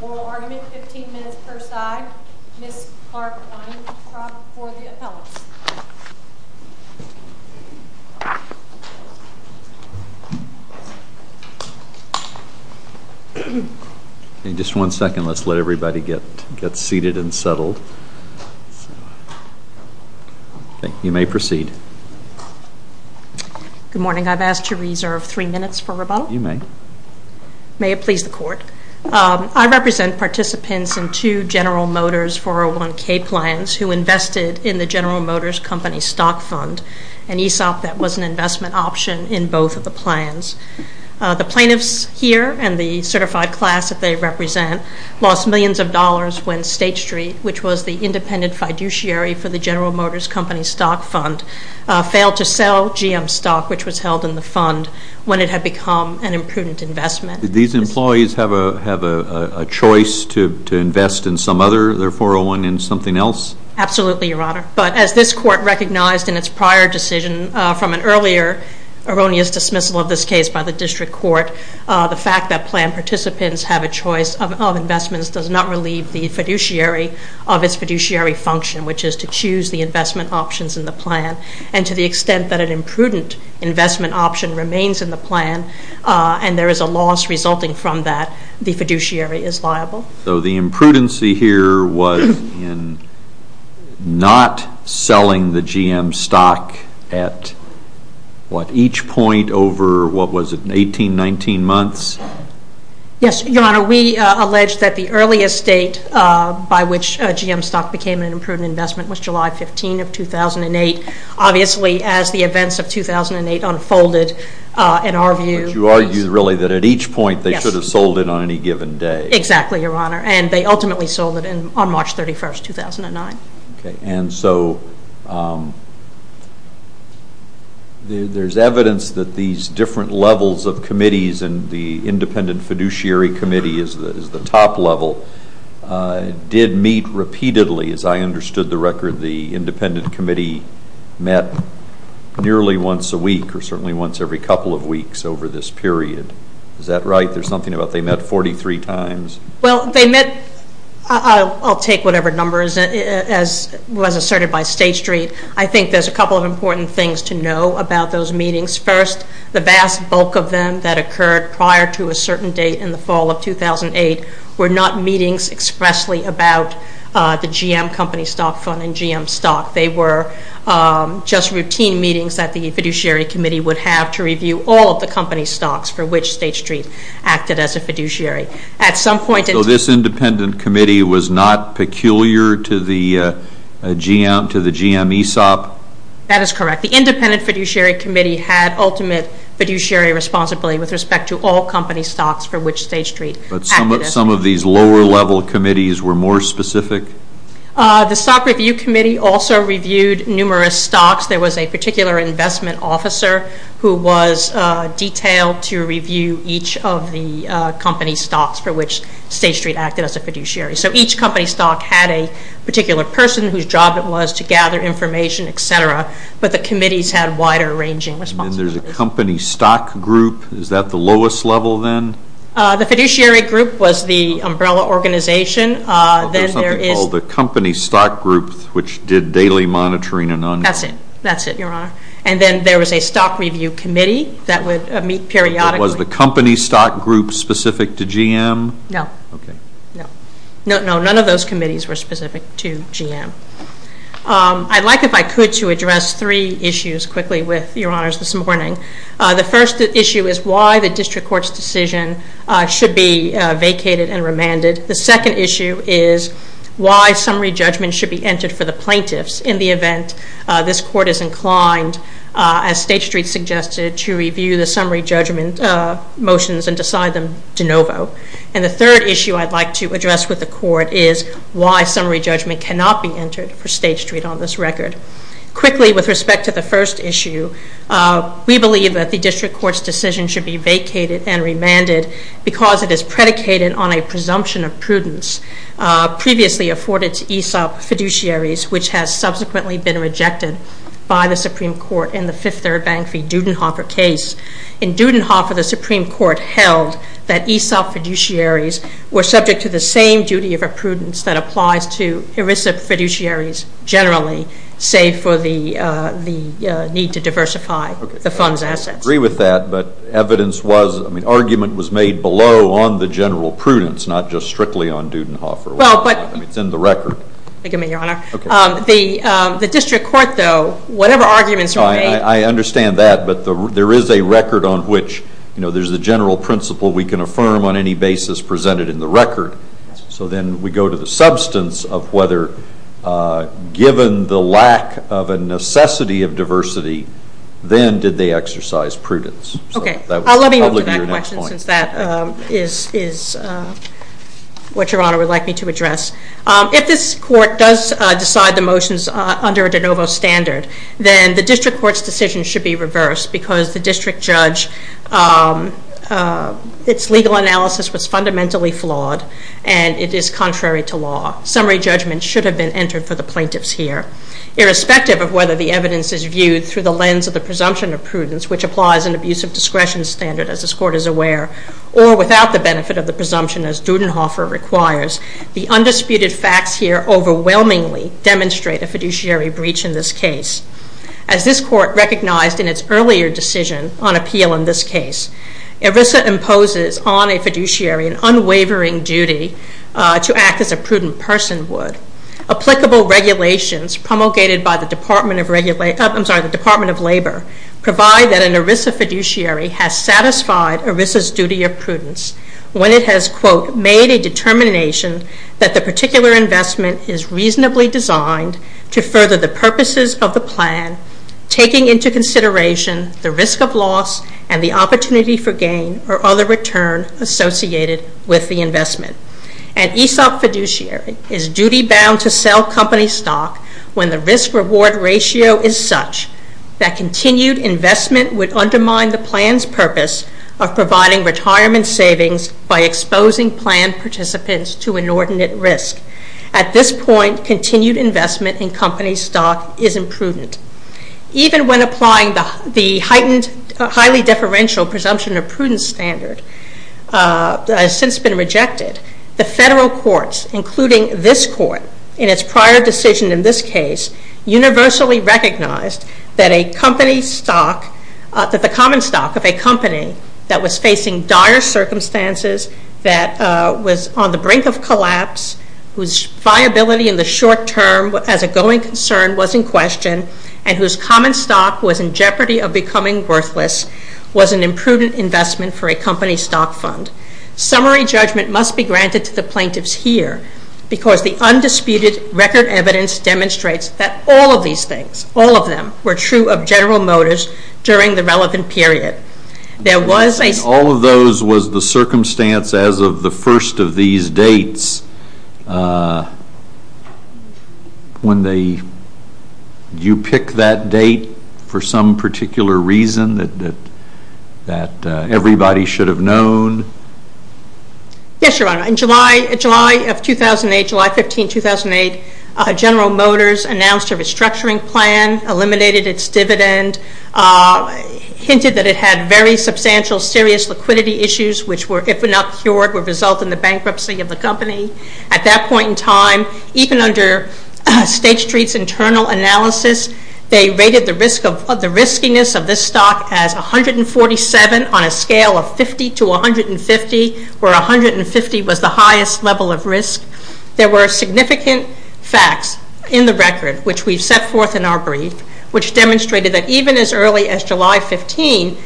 Moral argument, 15 minutes per side. Ms. Clark-Weintraub for the appellate. Just one second, let's let everybody get seated and settle. You may proceed. Good morning, I've asked to reserve three minutes for rebuttal. You may. May it please the Court. I represent participants in two General Motors 401K plans who invested in the General Motors Company stock fund, an ESOP that was an investment option in both of the plans. The plaintiffs here and the certified class that they represent lost millions of dollars when State Street, which was the independent fiduciary for the General Motors Company stock fund, failed to sell GM stock, which was held in the fund, when it had become an imprudent investment. Did these employees have a choice to invest in some other, their 401, in something else? Absolutely, Your Honor. But as this Court recognized in its prior decision from an earlier erroneous dismissal of this case by the district court, the fact that plan participants have a choice of investments does not relieve the fiduciary of its fiduciary function, which is to choose the investment options in the plan. And to the extent that an imprudent investment option remains in the plan and there is a loss resulting from that, the fiduciary is liable. So the imprudency here was in not selling the GM stock at, what, each point over, what was it, 18, 19 months? Yes, Your Honor. We allege that the earliest date by which GM stock became an imprudent investment was July 15 of 2008, obviously as the events of 2008 unfolded, in our view. But you argue really that at each point they should have sold it on any given day. Exactly, Your Honor. And they ultimately sold it on March 31, 2009. Okay. And so there is evidence that these different levels of committees, and the independent fiduciary committee is the top level, did meet repeatedly. As I understood the record, the independent committee met nearly once a week or certainly once every couple of weeks over this period. Is that right? There is something about they met 43 times. Well, they met, I will take whatever number was asserted by State Street. I think there is a couple of important things to know about those meetings. First, the vast bulk of them that occurred prior to a certain date in the fall of 2008 were not meetings expressly about the GM company stock fund and GM stock. They were just routine meetings that the fiduciary committee would have to review all of the company stocks for which State Street acted as a fiduciary. So this independent committee was not peculiar to the GM ESOP? That is correct. The independent fiduciary committee had ultimate fiduciary responsibility with respect to all company stocks for which State Street acted as. But some of these lower level committees were more specific? The stock review committee also reviewed numerous stocks. There was a particular investment officer who was detailed to review each of the company stocks for which State Street acted as a fiduciary. So each company stock had a particular person whose job it was to gather information, etc., but the committees had wider ranging responsibilities. And there is a company stock group. Is that the lowest level then? The fiduciary group was the umbrella organization. Then there is something called the company stock group which did daily monitoring and ongoing. That is it. That is it, Your Honor. And then there was a stock review committee that would meet periodically. Was the company stock group specific to GM? No. Okay. No. None of those committees were specific to GM. I would like, if I could, to address three issues quickly with Your Honors this morning. The first issue is why the district court's decision should be vacated and remanded. The second issue is why summary judgment should be entered for the plaintiffs in the event this court is inclined, as State Street suggested, to review the summary judgment motions and decide them de novo. And the third issue I would like to address with the court is why summary judgment cannot be entered for State Street on this record. Quickly, with respect to the first issue, we believe that the district court's decision should be vacated and remanded because it is predicated on a presumption of prudence previously afforded to ESOP fiduciaries which has subsequently been rejected by the Supreme Court in the Fifth Third Bank v. Dudenhofer case. In Dudenhofer, the Supreme Court held that ESOP fiduciaries were subject to the same duty of prudence that applies to ERISA fiduciaries generally, save for the need to diversify the fund's assets. Okay. I agree with that. But evidence was, I mean, argument was made below on the general prudence, not just strictly on Dudenhofer. Well, but- It's in the record. Excuse me, Your Honor. Okay. The district court, though, whatever arguments are made- I understand that. But there is a record on which, you know, there's a general principle we can affirm on any basis presented in the record. So then we go to the substance of whether given the lack of a necessity of diversity, then did they exercise prudence? Okay. I'll let you answer that question since that is what Your Honor would like me to address. If this court does decide the motions under a de novo standard, then the district court's decision should be reversed because the district judge, its legal analysis was fundamentally flawed and it is contrary to law. Summary judgment should have been entered for the plaintiffs here. Irrespective of whether the evidence is viewed through the lens of the presumption of prudence, which applies an abuse of discretion standard, as this court is aware, or without the benefit of the presumption as Dudenhofer requires, the undisputed facts here overwhelmingly demonstrate a fiduciary breach in this case. As this court recognized in its earlier decision on appeal in this case, ERISA imposes on a fiduciary an unwavering duty to act as a prudent person would. Applicable regulations promulgated by the Department of Labor provide that an ERISA fiduciary has satisfied ERISA's duty of prudence when it has, quote, made a determination that the particular investment is reasonably designed to further the purposes of the plan, taking into consideration the risk of loss and the opportunity for gain or other return associated with the investment. An ESOP fiduciary is duty-bound to sell company stock when the risk-reward ratio is such that continued investment would undermine the plan's purpose of providing retirement savings by exposing plan participants to inordinate risk. At this point, continued investment in company stock is imprudent. Even when applying the heightened, highly deferential presumption of prudence standard, that has since been rejected, the federal courts, including this court, in its prior decision in this case, universally recognized that a company stock, that the common stock of a company that was facing dire circumstances, that was on the brink of collapse, whose viability in the short term as a going concern was in question, and whose common stock was in jeopardy of becoming worthless, was an imprudent investment for a company stock fund. Summary judgment must be granted to the plaintiffs here, because the undisputed record evidence demonstrates that all of these things, all of them, were true of General Motors during the relevant period. There was a- All of those was the circumstance as of the first of these dates. When they- you pick that date for some particular reason that everybody should have known? Yes, Your Honor. In July of 2008, July 15, 2008, General Motors announced a restructuring plan, eliminated its dividend, hinted that it had very substantial, serious liquidity issues, which were, if not cured, would result in the bankruptcy of the company. At that point in time, even under State Street's internal analysis, they rated the risk of- the riskiness of this stock as 147 on a scale of 50 to 150, where 150 was the highest level of risk. There were significant facts in the record, which we've set forth in our brief, which demonstrated that even as early as July 15,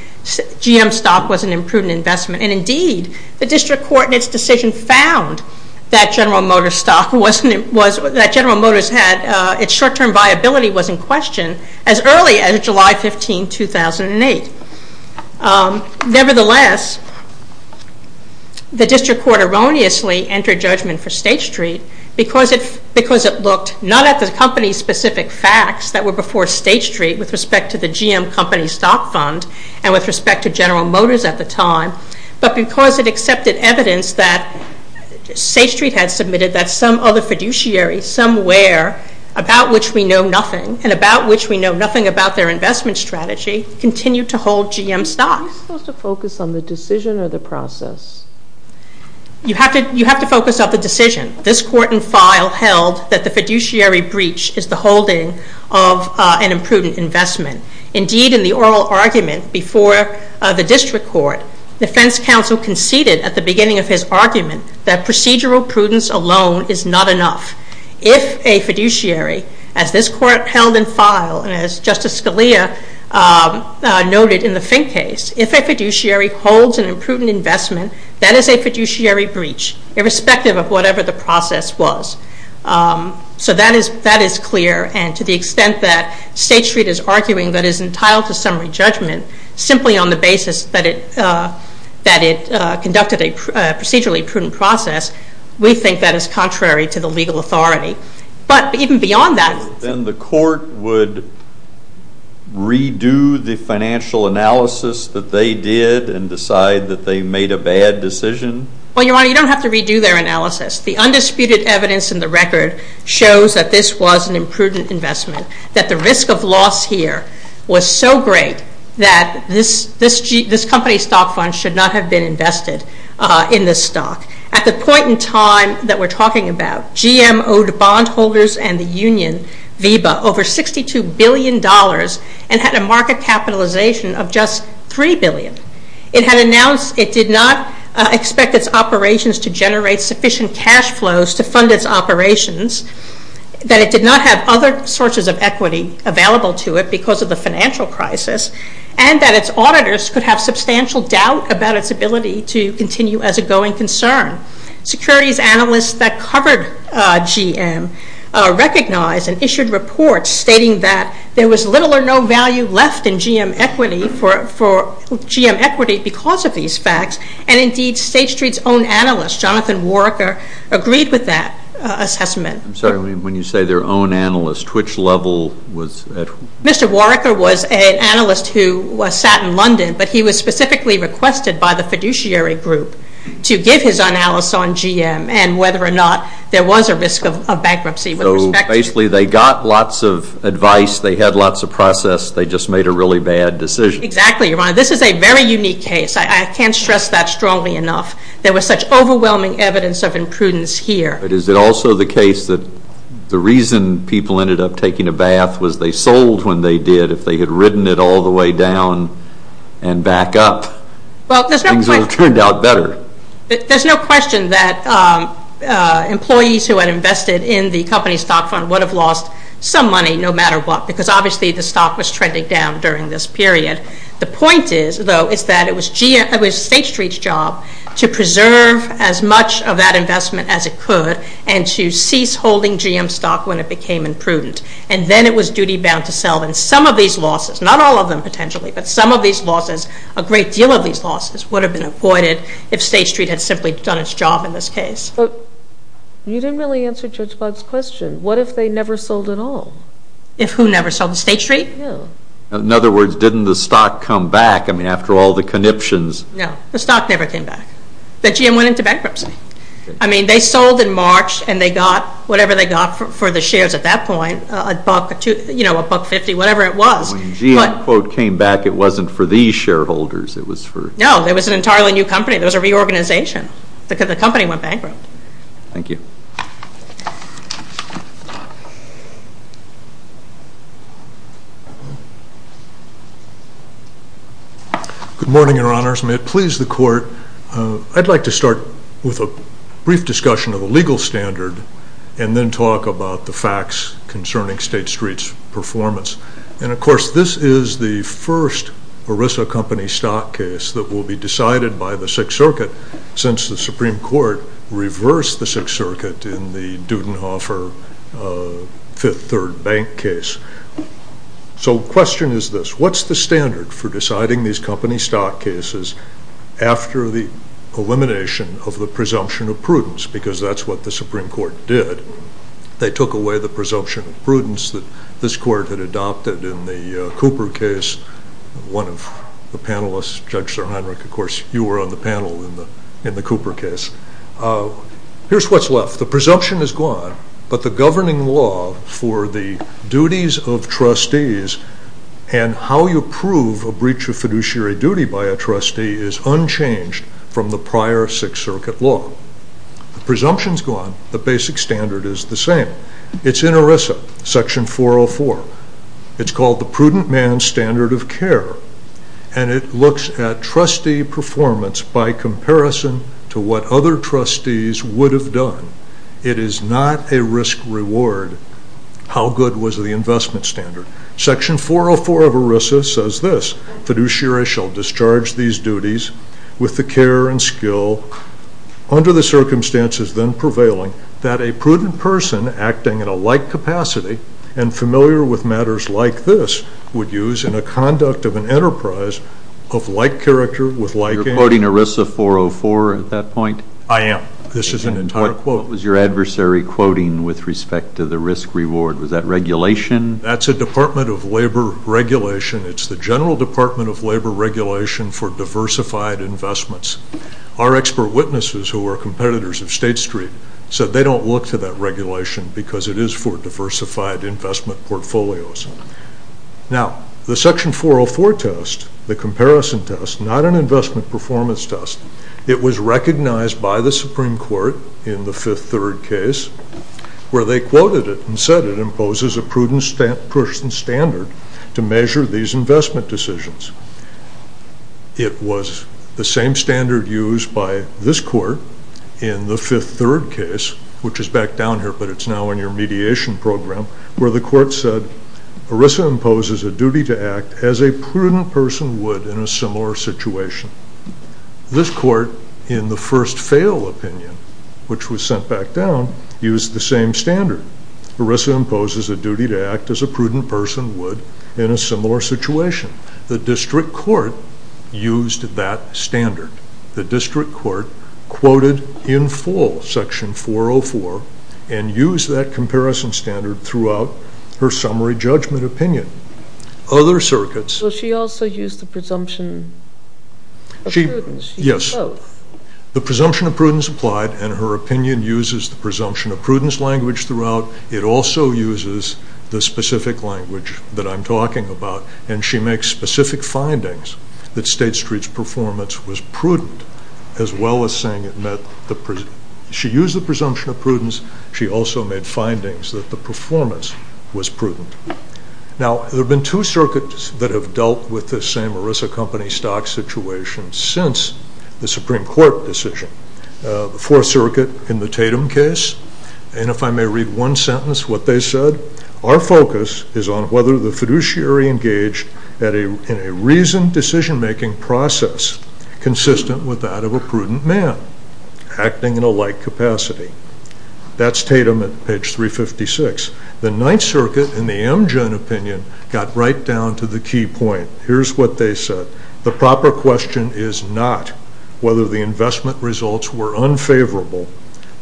GM stock was an imprudent investment. And indeed, the district court in its decision found that General Motors stock was- that General Motors had- its short-term viability was in question as early as July 15, 2008. Nevertheless, the district court erroneously entered judgment for State Street because it looked not at the company's specific facts that were before State Street with respect to the GM company stock fund and with respect to General Motors at the time, but because it accepted evidence that State Street had submitted that some other fiduciary somewhere, about which we know nothing, and about which we know nothing about their investment strategy, continued to hold GM stock. Are we supposed to focus on the decision or the process? You have to- you have to focus on the decision. This court in file held that the fiduciary breach is the holding of an imprudent investment. Indeed, in the oral argument before the district court, defense counsel conceded at the beginning of his argument that procedural prudence alone is not enough. If a fiduciary, as this court held in file and as Justice Scalia noted in the Fink case, if a fiduciary holds an imprudent investment, that is a fiduciary breach, irrespective of whatever the process was. So that is clear, and to the extent that State Street is arguing that it is entitled to summary judgment simply on the basis that it conducted a procedurally prudent process, we think that is contrary to the legal authority. But even beyond that- Then the court would redo the financial analysis that they did and decide that they made a bad decision? Well, Your Honor, you don't have to redo their analysis. The undisputed evidence in the record shows that this was an imprudent investment, that the risk of loss here was so great that this company's stock fund should not have been invested in this stock. At the point in time that we're talking about, GM owed bondholders and the union, VEBA, over $62 billion and had a market capitalization of just $3 billion. It had announced it did not expect its operations to generate sufficient cash flows to fund its operations, that it did not have other sources of equity available to it because of the financial crisis, and that its auditors could have substantial doubt about its ability to continue as a going concern. Securities analysts that covered GM recognized and issued reports stating that there was little or no value left in GM equity because of these facts. And, indeed, State Street's own analyst, Jonathan Warrecker, agreed with that assessment. I'm sorry. When you say their own analyst, which level was- Mr. Warrecker was an analyst who sat in London, but he was specifically requested by the fiduciary group to give his analysis on GM and whether or not there was a risk of bankruptcy with respect to- Basically, they got lots of advice. They had lots of process. They just made a really bad decision. Exactly, Your Honor. This is a very unique case. I can't stress that strongly enough. There was such overwhelming evidence of imprudence here. But is it also the case that the reason people ended up taking a bath was they sold when they did? If they had ridden it all the way down and back up, things would have turned out better. There's no question that employees who had invested in the company stock fund would have lost some money, no matter what, because, obviously, the stock was trending down during this period. The point, though, is that it was State Street's job to preserve as much of that investment as it could and to cease holding GM stock when it became imprudent. And then it was duty-bound to sell. And some of these losses, not all of them potentially, but some of these losses, a great deal of these losses would have been avoided if State Street had simply done its job in this case. But you didn't really answer Judge Boggs' question. What if they never sold at all? If who never sold? State Street? Yeah. In other words, didn't the stock come back? I mean, after all the conniptions. No. The stock never came back. The GM went into bankruptcy. I mean, they sold in March, and they got whatever they got for the shares at that point, a buck, a buck-fifty, whatever it was. When GM, quote, came back, it wasn't for these shareholders. It was for… No. It was an entirely new company. There was a reorganization. The company went bankrupt. Thank you. Good morning, Your Honors. May it please the Court, I'd like to start with a brief discussion of the legal standard and then talk about the facts concerning State Street's performance. And, of course, this is the first Orissa Company stock case that will be decided by the Sixth Circuit since the Supreme Court reversed the Sixth Circuit in the Dudenhofer Fifth Third Bank case. So the question is this. What's the standard for deciding these company stock cases after the elimination of the presumption of prudence? Because that's what the Supreme Court did. They took away the presumption of prudence that this Court had adopted in the Cooper case. One of the panelists, Judge Sir Heinrich, of course, you were on the panel in the Cooper case. Here's what's left. The presumption is gone, but the governing law for the duties of trustees and how you prove a breach of fiduciary duty by a trustee is unchanged from the prior Sixth Circuit law. The presumption is gone. The basic standard is the same. It's in Orissa, Section 404. It's called the prudent man's standard of care, and it looks at trustee performance by comparison to what other trustees would have done. It is not a risk-reward how good was the investment standard. Section 404 of Orissa says this. The fiduciary shall discharge these duties with the care and skill under the circumstances then prevailing that a prudent person acting in a like capacity and familiar with matters like this would use in a conduct of an enterprise of like character with like aim. You're quoting Orissa 404 at that point? I am. This is an entire quote. What was your adversary quoting with respect to the risk-reward? Was that regulation? That's a Department of Labor regulation. It's the General Department of Labor regulation for diversified investments. Our expert witnesses who are competitors of State Street said they don't look to that regulation because it is for diversified investment portfolios. Now, the Section 404 test, the comparison test, not an investment performance test, it was recognized by the Supreme Court in the Fifth Third case where they quoted it and said it imposes a prudent person standard to measure these investment decisions. It was the same standard used by this court in the Fifth Third case, which is back down here but it's now in your mediation program, where the court said Orissa imposes a duty to act as a prudent person would in a similar situation. This court, in the first fail opinion, which was sent back down, used the same standard. Orissa imposes a duty to act as a prudent person would in a similar situation. The district court used that standard. The district court quoted in full Section 404 and used that comparison standard throughout her summary judgment opinion. Will she also use the presumption of prudence? Yes, the presumption of prudence applied and her opinion uses the presumption of prudence language throughout. It also uses the specific language that I'm talking about and she makes specific findings that State Street's performance was prudent as well as saying it met the presumption. She used the presumption of prudence, she also made findings that the performance was prudent. Now, there have been two circuits that have dealt with this same Orissa company stock situation since the Supreme Court decision. The Fourth Circuit in the Tatum case, and if I may read one sentence of what they said, our focus is on whether the fiduciary engaged in a reasoned decision-making process consistent with that of a prudent man acting in a like capacity. That's Tatum at page 356. The Ninth Circuit in the Amgen opinion got right down to the key point. Here's what they said. The proper question is not whether the investment results were unfavorable,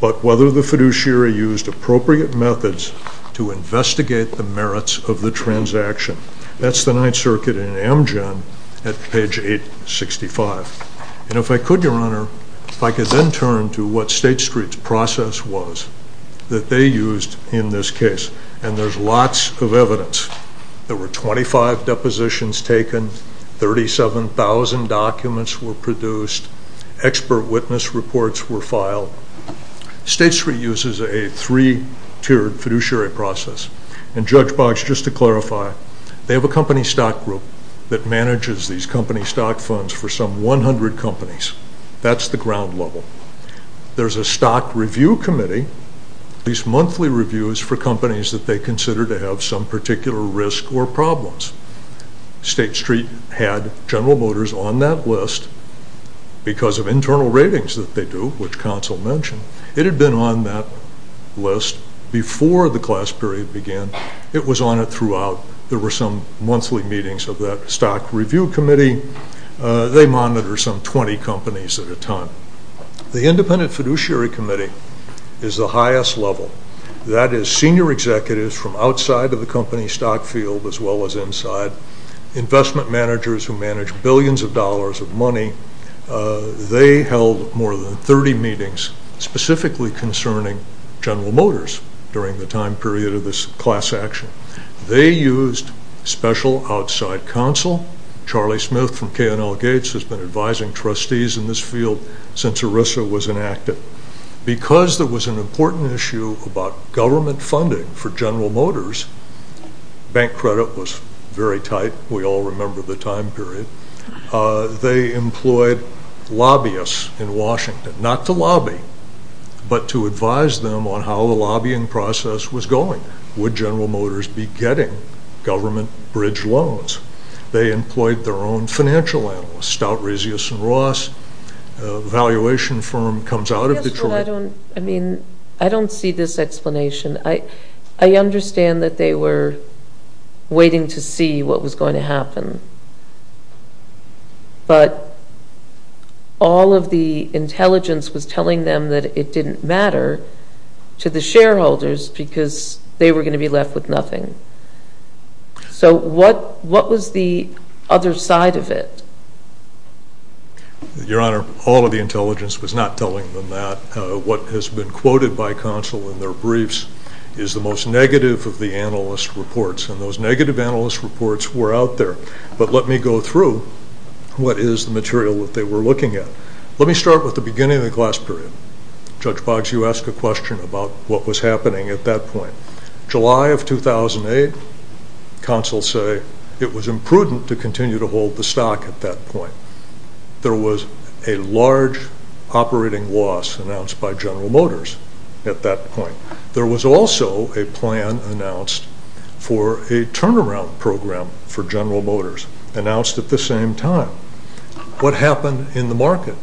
but whether the fiduciary used appropriate methods to investigate the merits of the transaction. That's the Ninth Circuit in Amgen at page 865. And if I could, Your Honor, if I could then turn to what State Street's process was that they used in this case. And there's lots of evidence. There were 25 depositions taken, 37,000 documents were produced, expert witness reports were filed. State Street uses a three-tiered fiduciary process. And Judge Boggs, just to clarify, they have a company stock group that manages these company stock funds for some 100 companies. That's the ground level. There's a stock review committee. These monthly reviews for companies that they consider to have some particular risk or problems. State Street had General Motors on that list because of internal ratings that they do, which counsel mentioned. It had been on that list before the class period began. It was on it throughout. There were some monthly meetings of that stock review committee. They monitor some 20 companies at a time. The independent fiduciary committee is the highest level. That is senior executives from outside of the company stock field as well as inside, investment managers who manage billions of dollars of money. They held more than 30 meetings specifically concerning General Motors during the time period of this class action. They used special outside counsel. Charlie Smith from K&L Gates has been advising trustees in this field since ERISA was enacted. Because there was an important issue about government funding for General Motors, bank credit was very tight. We all remember the time period. They employed lobbyists in Washington, not to lobby, but to advise them on how the lobbying process was going. Would General Motors be getting government bridge loans? They employed their own financial analysts, Stout, Rezios, and Ross. The valuation firm comes out of Detroit. I don't see this explanation. I understand that they were waiting to see what was going to happen, but all of the intelligence was telling them that it didn't matter to the shareholders because they were going to be left with nothing. So what was the other side of it? Your Honor, all of the intelligence was not telling them that. What has been quoted by counsel in their briefs is the most negative of the analyst reports, and those negative analyst reports were out there. But let me go through what is the material that they were looking at. Let me start with the beginning of the class period. Judge Boggs, you asked a question about what was happening at that point. July of 2008, counsel say it was imprudent to continue to hold the stock at that point. There was a large operating loss announced by General Motors at that point. There was also a plan announced for a turnaround program for General Motors, announced at the same time. What happened in the market?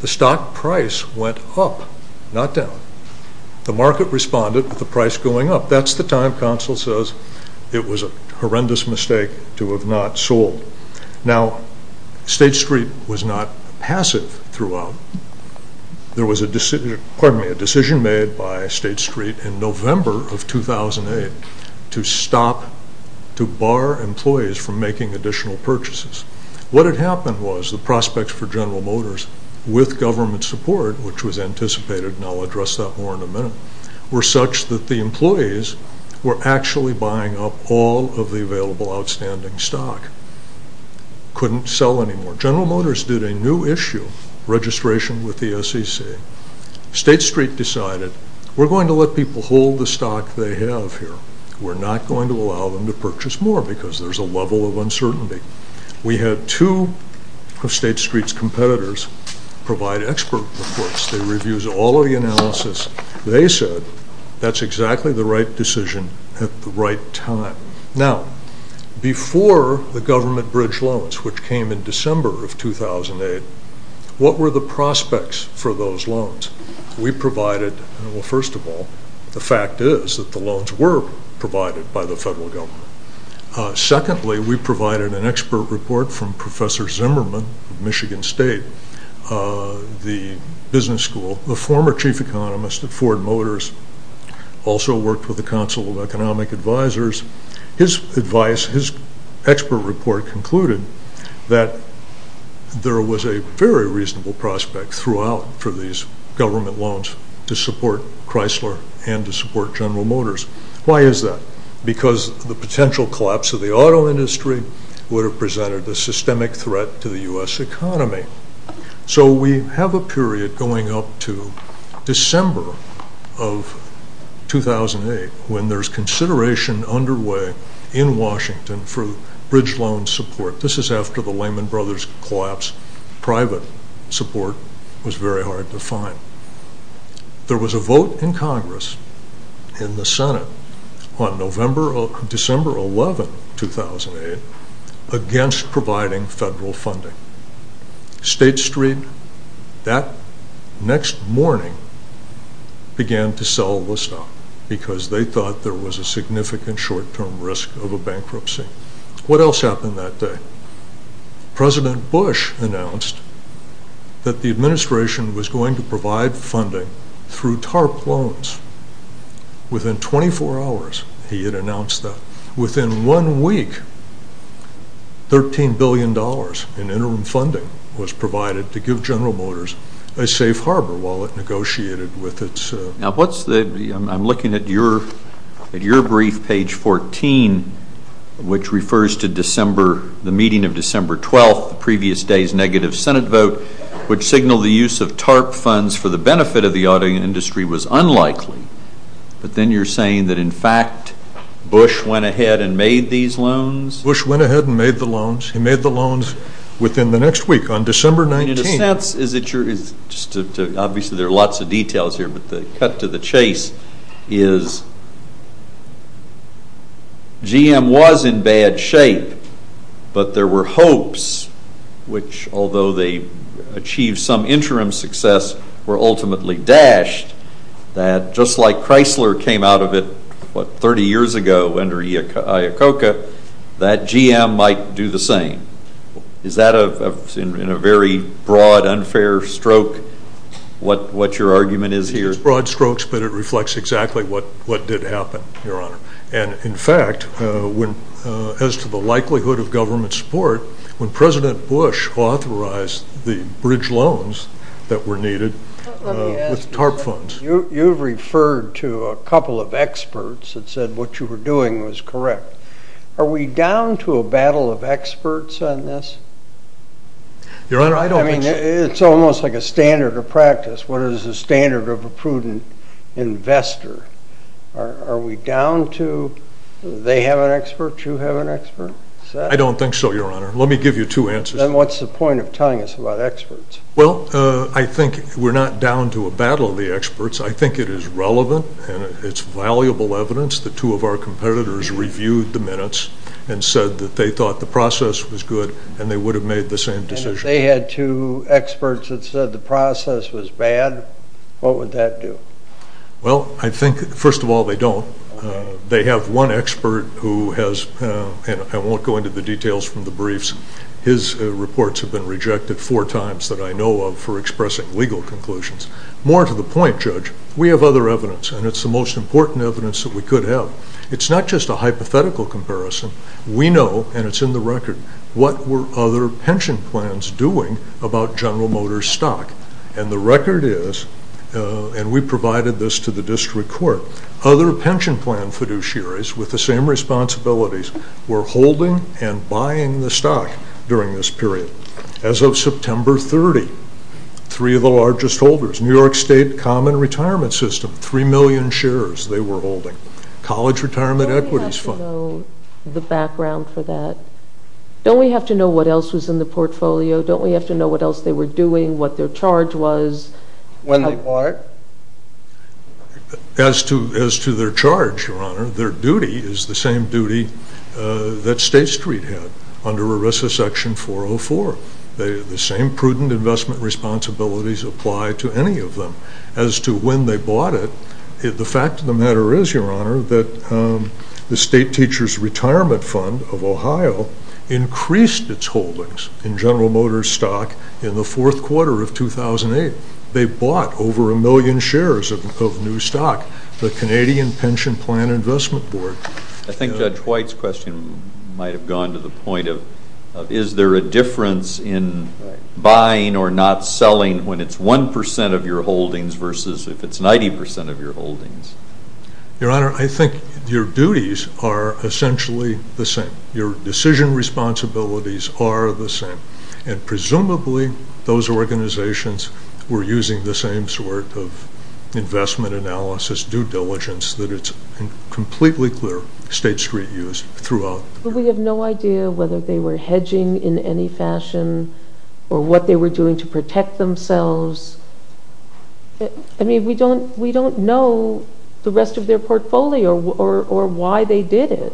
The stock price went up, not down. The market responded with the price going up. That's the time, counsel says, it was a horrendous mistake to have not sold. Now State Street was not passive throughout. There was a decision made by State Street in November of 2008 to stop, to bar employees from making additional purchases. What had happened was the prospects for General Motors, with government support, which was anticipated, and I'll address that more in a minute, were such that the employees were actually buying up all of the available outstanding stock. Couldn't sell anymore. General Motors did a new issue, registration with the SEC. State Street decided, we're going to let people hold the stock they have here. We're not going to allow them to purchase more because there's a level of uncertainty. We had two of State Street's competitors provide expert reports. They reviewed all of the analysis. They said that's exactly the right decision at the right time. Now, before the government bridge loans, which came in December of 2008, what were the prospects for those loans? We provided, well, first of all, the fact is that the loans were provided by the federal government. Secondly, we provided an expert report from Professor Zimmerman of Michigan State, the business school, the former chief economist at Ford Motors, also worked with the Council of Economic Advisors. His advice, his expert report, concluded that there was a very reasonable prospect throughout for these government loans to support Chrysler and to support General Motors. Why is that? Because the potential collapse of the auto industry would have presented a systemic threat to the U.S. economy. So we have a period going up to December of 2008 when there's consideration underway in Washington for bridge loan support. This is after the Lehman Brothers collapse. Private support was very hard to find. There was a vote in Congress, in the Senate, on December 11, 2008, against providing federal funding. State Street, that next morning, began to sell the stock because they thought there was a significant short-term risk of a bankruptcy. What else happened that day? President Bush announced that the administration was going to provide funding through TARP loans. Within 24 hours, he had announced that. Within one week, $13 billion in interim funding was provided to give General Motors a safe harbor while it negotiated with its... Now, I'm looking at your brief, page 14, which refers to the meeting of December 12, the previous day's negative Senate vote, which signaled the use of TARP funds for the benefit of the auto industry was unlikely. But then you're saying that, in fact, Bush went ahead and made these loans? Bush went ahead and made the loans. He made the loans within the next week, on December 19. Obviously, there are lots of details here, but the cut to the chase is, GM was in bad shape, but there were hopes, which, although they achieved some interim success, were ultimately dashed, that just like Chrysler came out of it, what, 30 years ago under Iacocca, that GM might do the same. Is that, in a very broad, unfair stroke, what your argument is here? It's broad strokes, but it reflects exactly what did happen, Your Honor. And, in fact, as to the likelihood of government support, when President Bush authorized the bridge loans that were needed with TARP funds... You've referred to a couple of experts that said what you were doing was correct. Are we down to a battle of experts on this? Your Honor, I don't think so. It's almost like a standard of practice. What is the standard of a prudent investor? Are we down to they have an expert, you have an expert? I don't think so, Your Honor. Let me give you two answers. Then what's the point of telling us about experts? Well, I think we're not down to a battle of the experts. I think it is relevant, and it's valuable evidence. The two of our competitors reviewed the minutes and said that they thought the process was good, and they would have made the same decision. And if they had two experts that said the process was bad, what would that do? Well, I think, first of all, they don't. They have one expert who has, and I won't go into the details from the briefs, his reports have been rejected four times that I know of for expressing legal conclusions. More to the point, Judge, we have other evidence, and it's the most important evidence that we could have. It's not just a hypothetical comparison. We know, and it's in the record, what were other pension plans doing about General Motors stock. And the record is, and we provided this to the district court, other pension plan fiduciaries with the same responsibilities were holding and buying the stock during this period. As of September 30, three of the largest holders, New York State Common Retirement System, three million shares they were holding, College Retirement Equities Fund. Don't we have to know the background for that? Don't we have to know what else was in the portfolio? Don't we have to know what else they were doing, what their charge was? When they bought it? As to their charge, Your Honor, their duty is the same duty that State Street had under ERISA Section 404. The same prudent investment responsibilities apply to any of them. As to when they bought it, the fact of the matter is, Your Honor, that the State Teachers Retirement Fund of Ohio increased its holdings in General Motors stock in the fourth quarter of 2008. They bought over a million shares of new stock. The Canadian Pension Plan Investment Board. I think Judge White's question might have gone to the point of, is there a difference in buying or not selling when it's 1% of your holdings versus if it's 90% of your holdings? Your Honor, I think your duties are essentially the same. Your decision responsibilities are the same. Presumably, those organizations were using the same sort of investment analysis, due diligence that it's completely clear State Street used throughout. We have no idea whether they were hedging in any fashion or what they were doing to protect themselves. I mean, we don't know the rest of their portfolio or why they did it.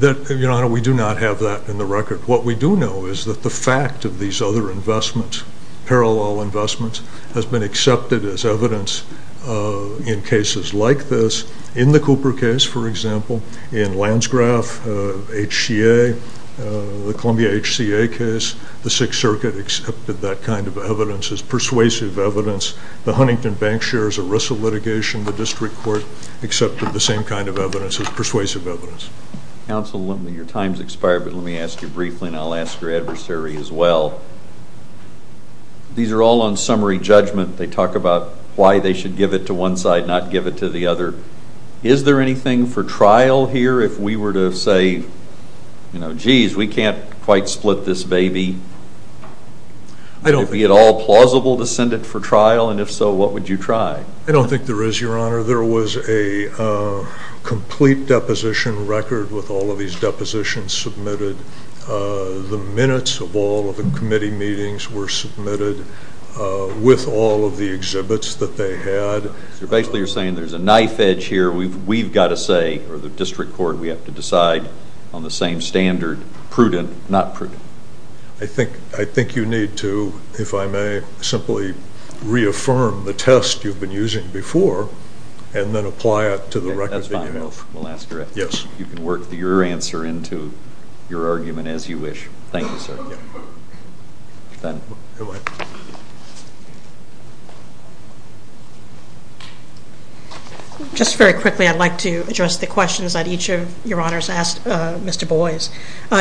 Your Honor, we do not have that in the record. What we do know is that the fact of these other investments, parallel investments, has been accepted as evidence in cases like this. In the Cooper case, for example, in Landsgraf, HCA, the Columbia HCA case, the Sixth Circuit accepted that kind of evidence as persuasive evidence. The Huntington Bank shares of Russell litigation, the district court, accepted the same kind of evidence as persuasive evidence. Counsel, your time has expired, but let me ask you briefly, and I'll ask your adversary as well. These are all on summary judgment. They talk about why they should give it to one side, not give it to the other. Is there anything for trial here? If we were to say, you know, geez, we can't quite split this baby, would it be at all plausible to send it for trial? And if so, what would you try? I don't think there is, Your Honor. There was a complete deposition record with all of these depositions submitted. The minutes of all of the committee meetings were submitted with all of the exhibits that they had. So basically you're saying there's a knife edge here. We've got to say, or the district court, we have to decide on the same standard, prudent, not prudent. I think you need to, if I may, simply reaffirm the test you've been using before and then apply it to the record that you have. That's fine. We'll ask your adversary. You can work your answer into your argument as you wish. Thank you, sir. Just very quickly, I'd like to address the questions that each of Your Honors asked Mr. Boies.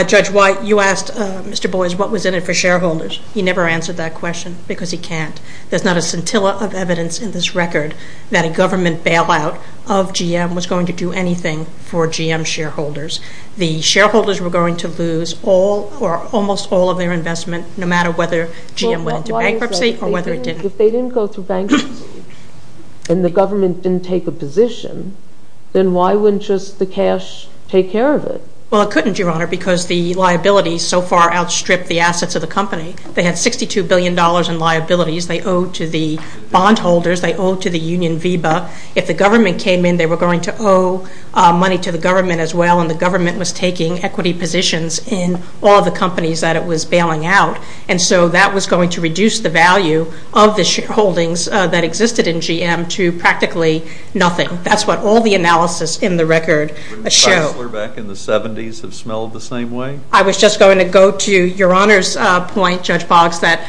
Judge White, you asked Mr. Boies what was in it for shareholders. He never answered that question because he can't. There's not a scintilla of evidence in this record that a government bailout of GM was going to do anything for GM shareholders. The shareholders were going to lose all or almost all of their investment no matter whether GM went into bankruptcy or whether it didn't. If they didn't go through bankruptcy and the government didn't take a position, then why wouldn't just the cash take care of it? Well, it couldn't, Your Honor, because the liability so far outstripped the assets of the company. They had $62 billion in liabilities they owed to the bondholders. They owed to the Union VEBA. If the government came in, they were going to owe money to the government as well, and the government was taking equity positions in all the companies that it was bailing out, and so that was going to reduce the value of the shareholdings that existed in GM to practically nothing. That's what all the analysis in the record showed. Wouldn't Chrysler back in the 70s have smelled the same way? I was just going to go to Your Honor's point, Judge Boggs, that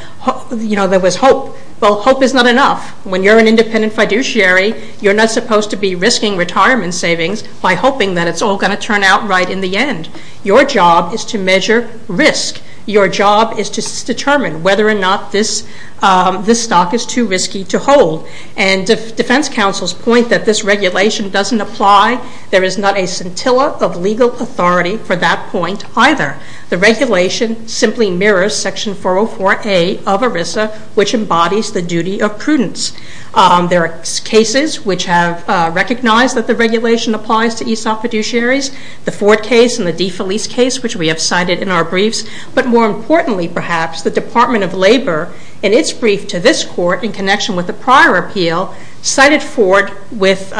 there was hope. Well, hope is not enough. When you're an independent fiduciary, you're not supposed to be risking retirement savings by hoping that it's all going to turn out right in the end. Your job is to measure risk. Your job is to determine whether or not this stock is too risky to hold, and defense counsel's point that this regulation doesn't apply, there is not a scintilla of legal authority for that point either. The regulation simply mirrors Section 404A of ERISA, which embodies the duty of prudence. There are cases which have recognized that the regulation applies to ESOP fiduciaries, the Ford case and the DeFelice case, which we have cited in our briefs, but more importantly, perhaps, the Department of Labor, in its brief to this Court in connection with the prior appeal, cited Ford with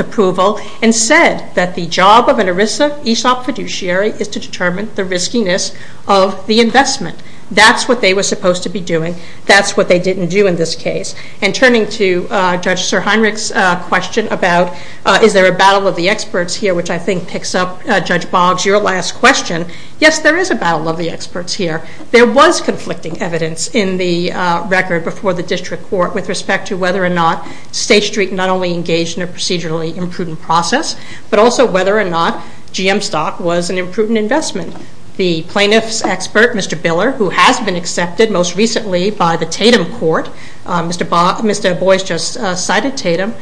approval and said that the job of an ERISA ESOP fiduciary is to determine the riskiness of the investment. That's what they were supposed to be doing. That's what they didn't do in this case. And turning to Judge SirHeinrich's question about is there a battle of the experts here, which I think picks up Judge Boggs, your last question, yes, there is a battle of the experts here. There was conflicting evidence in the record before the district court with respect to whether or not State Street not only engaged in a procedurally imprudent process, but also whether or not GM stock was an imprudent investment. The plaintiff's expert, Mr. Biller, who has been accepted most recently by the Tatum Court, Mr. Boyce just cited Tatum,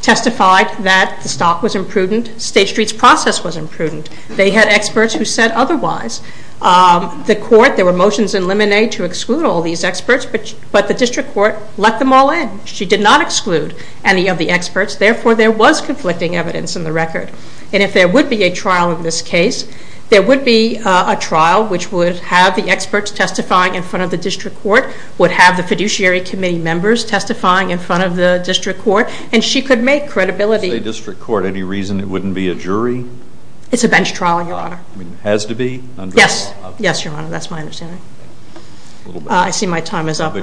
testified that the stock was imprudent. State Street's process was imprudent. They had experts who said otherwise. The court, there were motions in Lemonade to exclude all these experts, but the district court let them all in. She did not exclude any of the experts. Therefore, there was conflicting evidence in the record. And if there would be a trial in this case, there would be a trial which would have the experts testifying in front of the district court, would have the fiduciary committee members testifying in front of the district court, and she could make credibility. If you say district court, any reason it wouldn't be a jury? It's a bench trial, Your Honor. It has to be? Yes. Yes, Your Honor, that's my understanding. I see my time is up.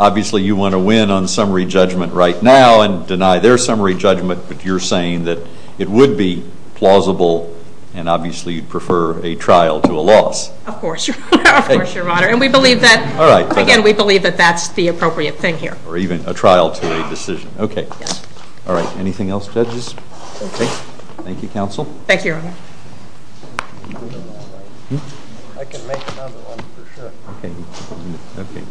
Obviously you want to win on summary judgment right now and deny their summary judgment, but you're saying that it would be plausible and obviously you'd prefer a trial to a loss. Of course, Your Honor. Again, we believe that that's the appropriate thing here. Or even a trial to a decision. Okay. All right. Anything else, judges? Okay. Thank you, counsel. Thank you, Your Honor. Okay.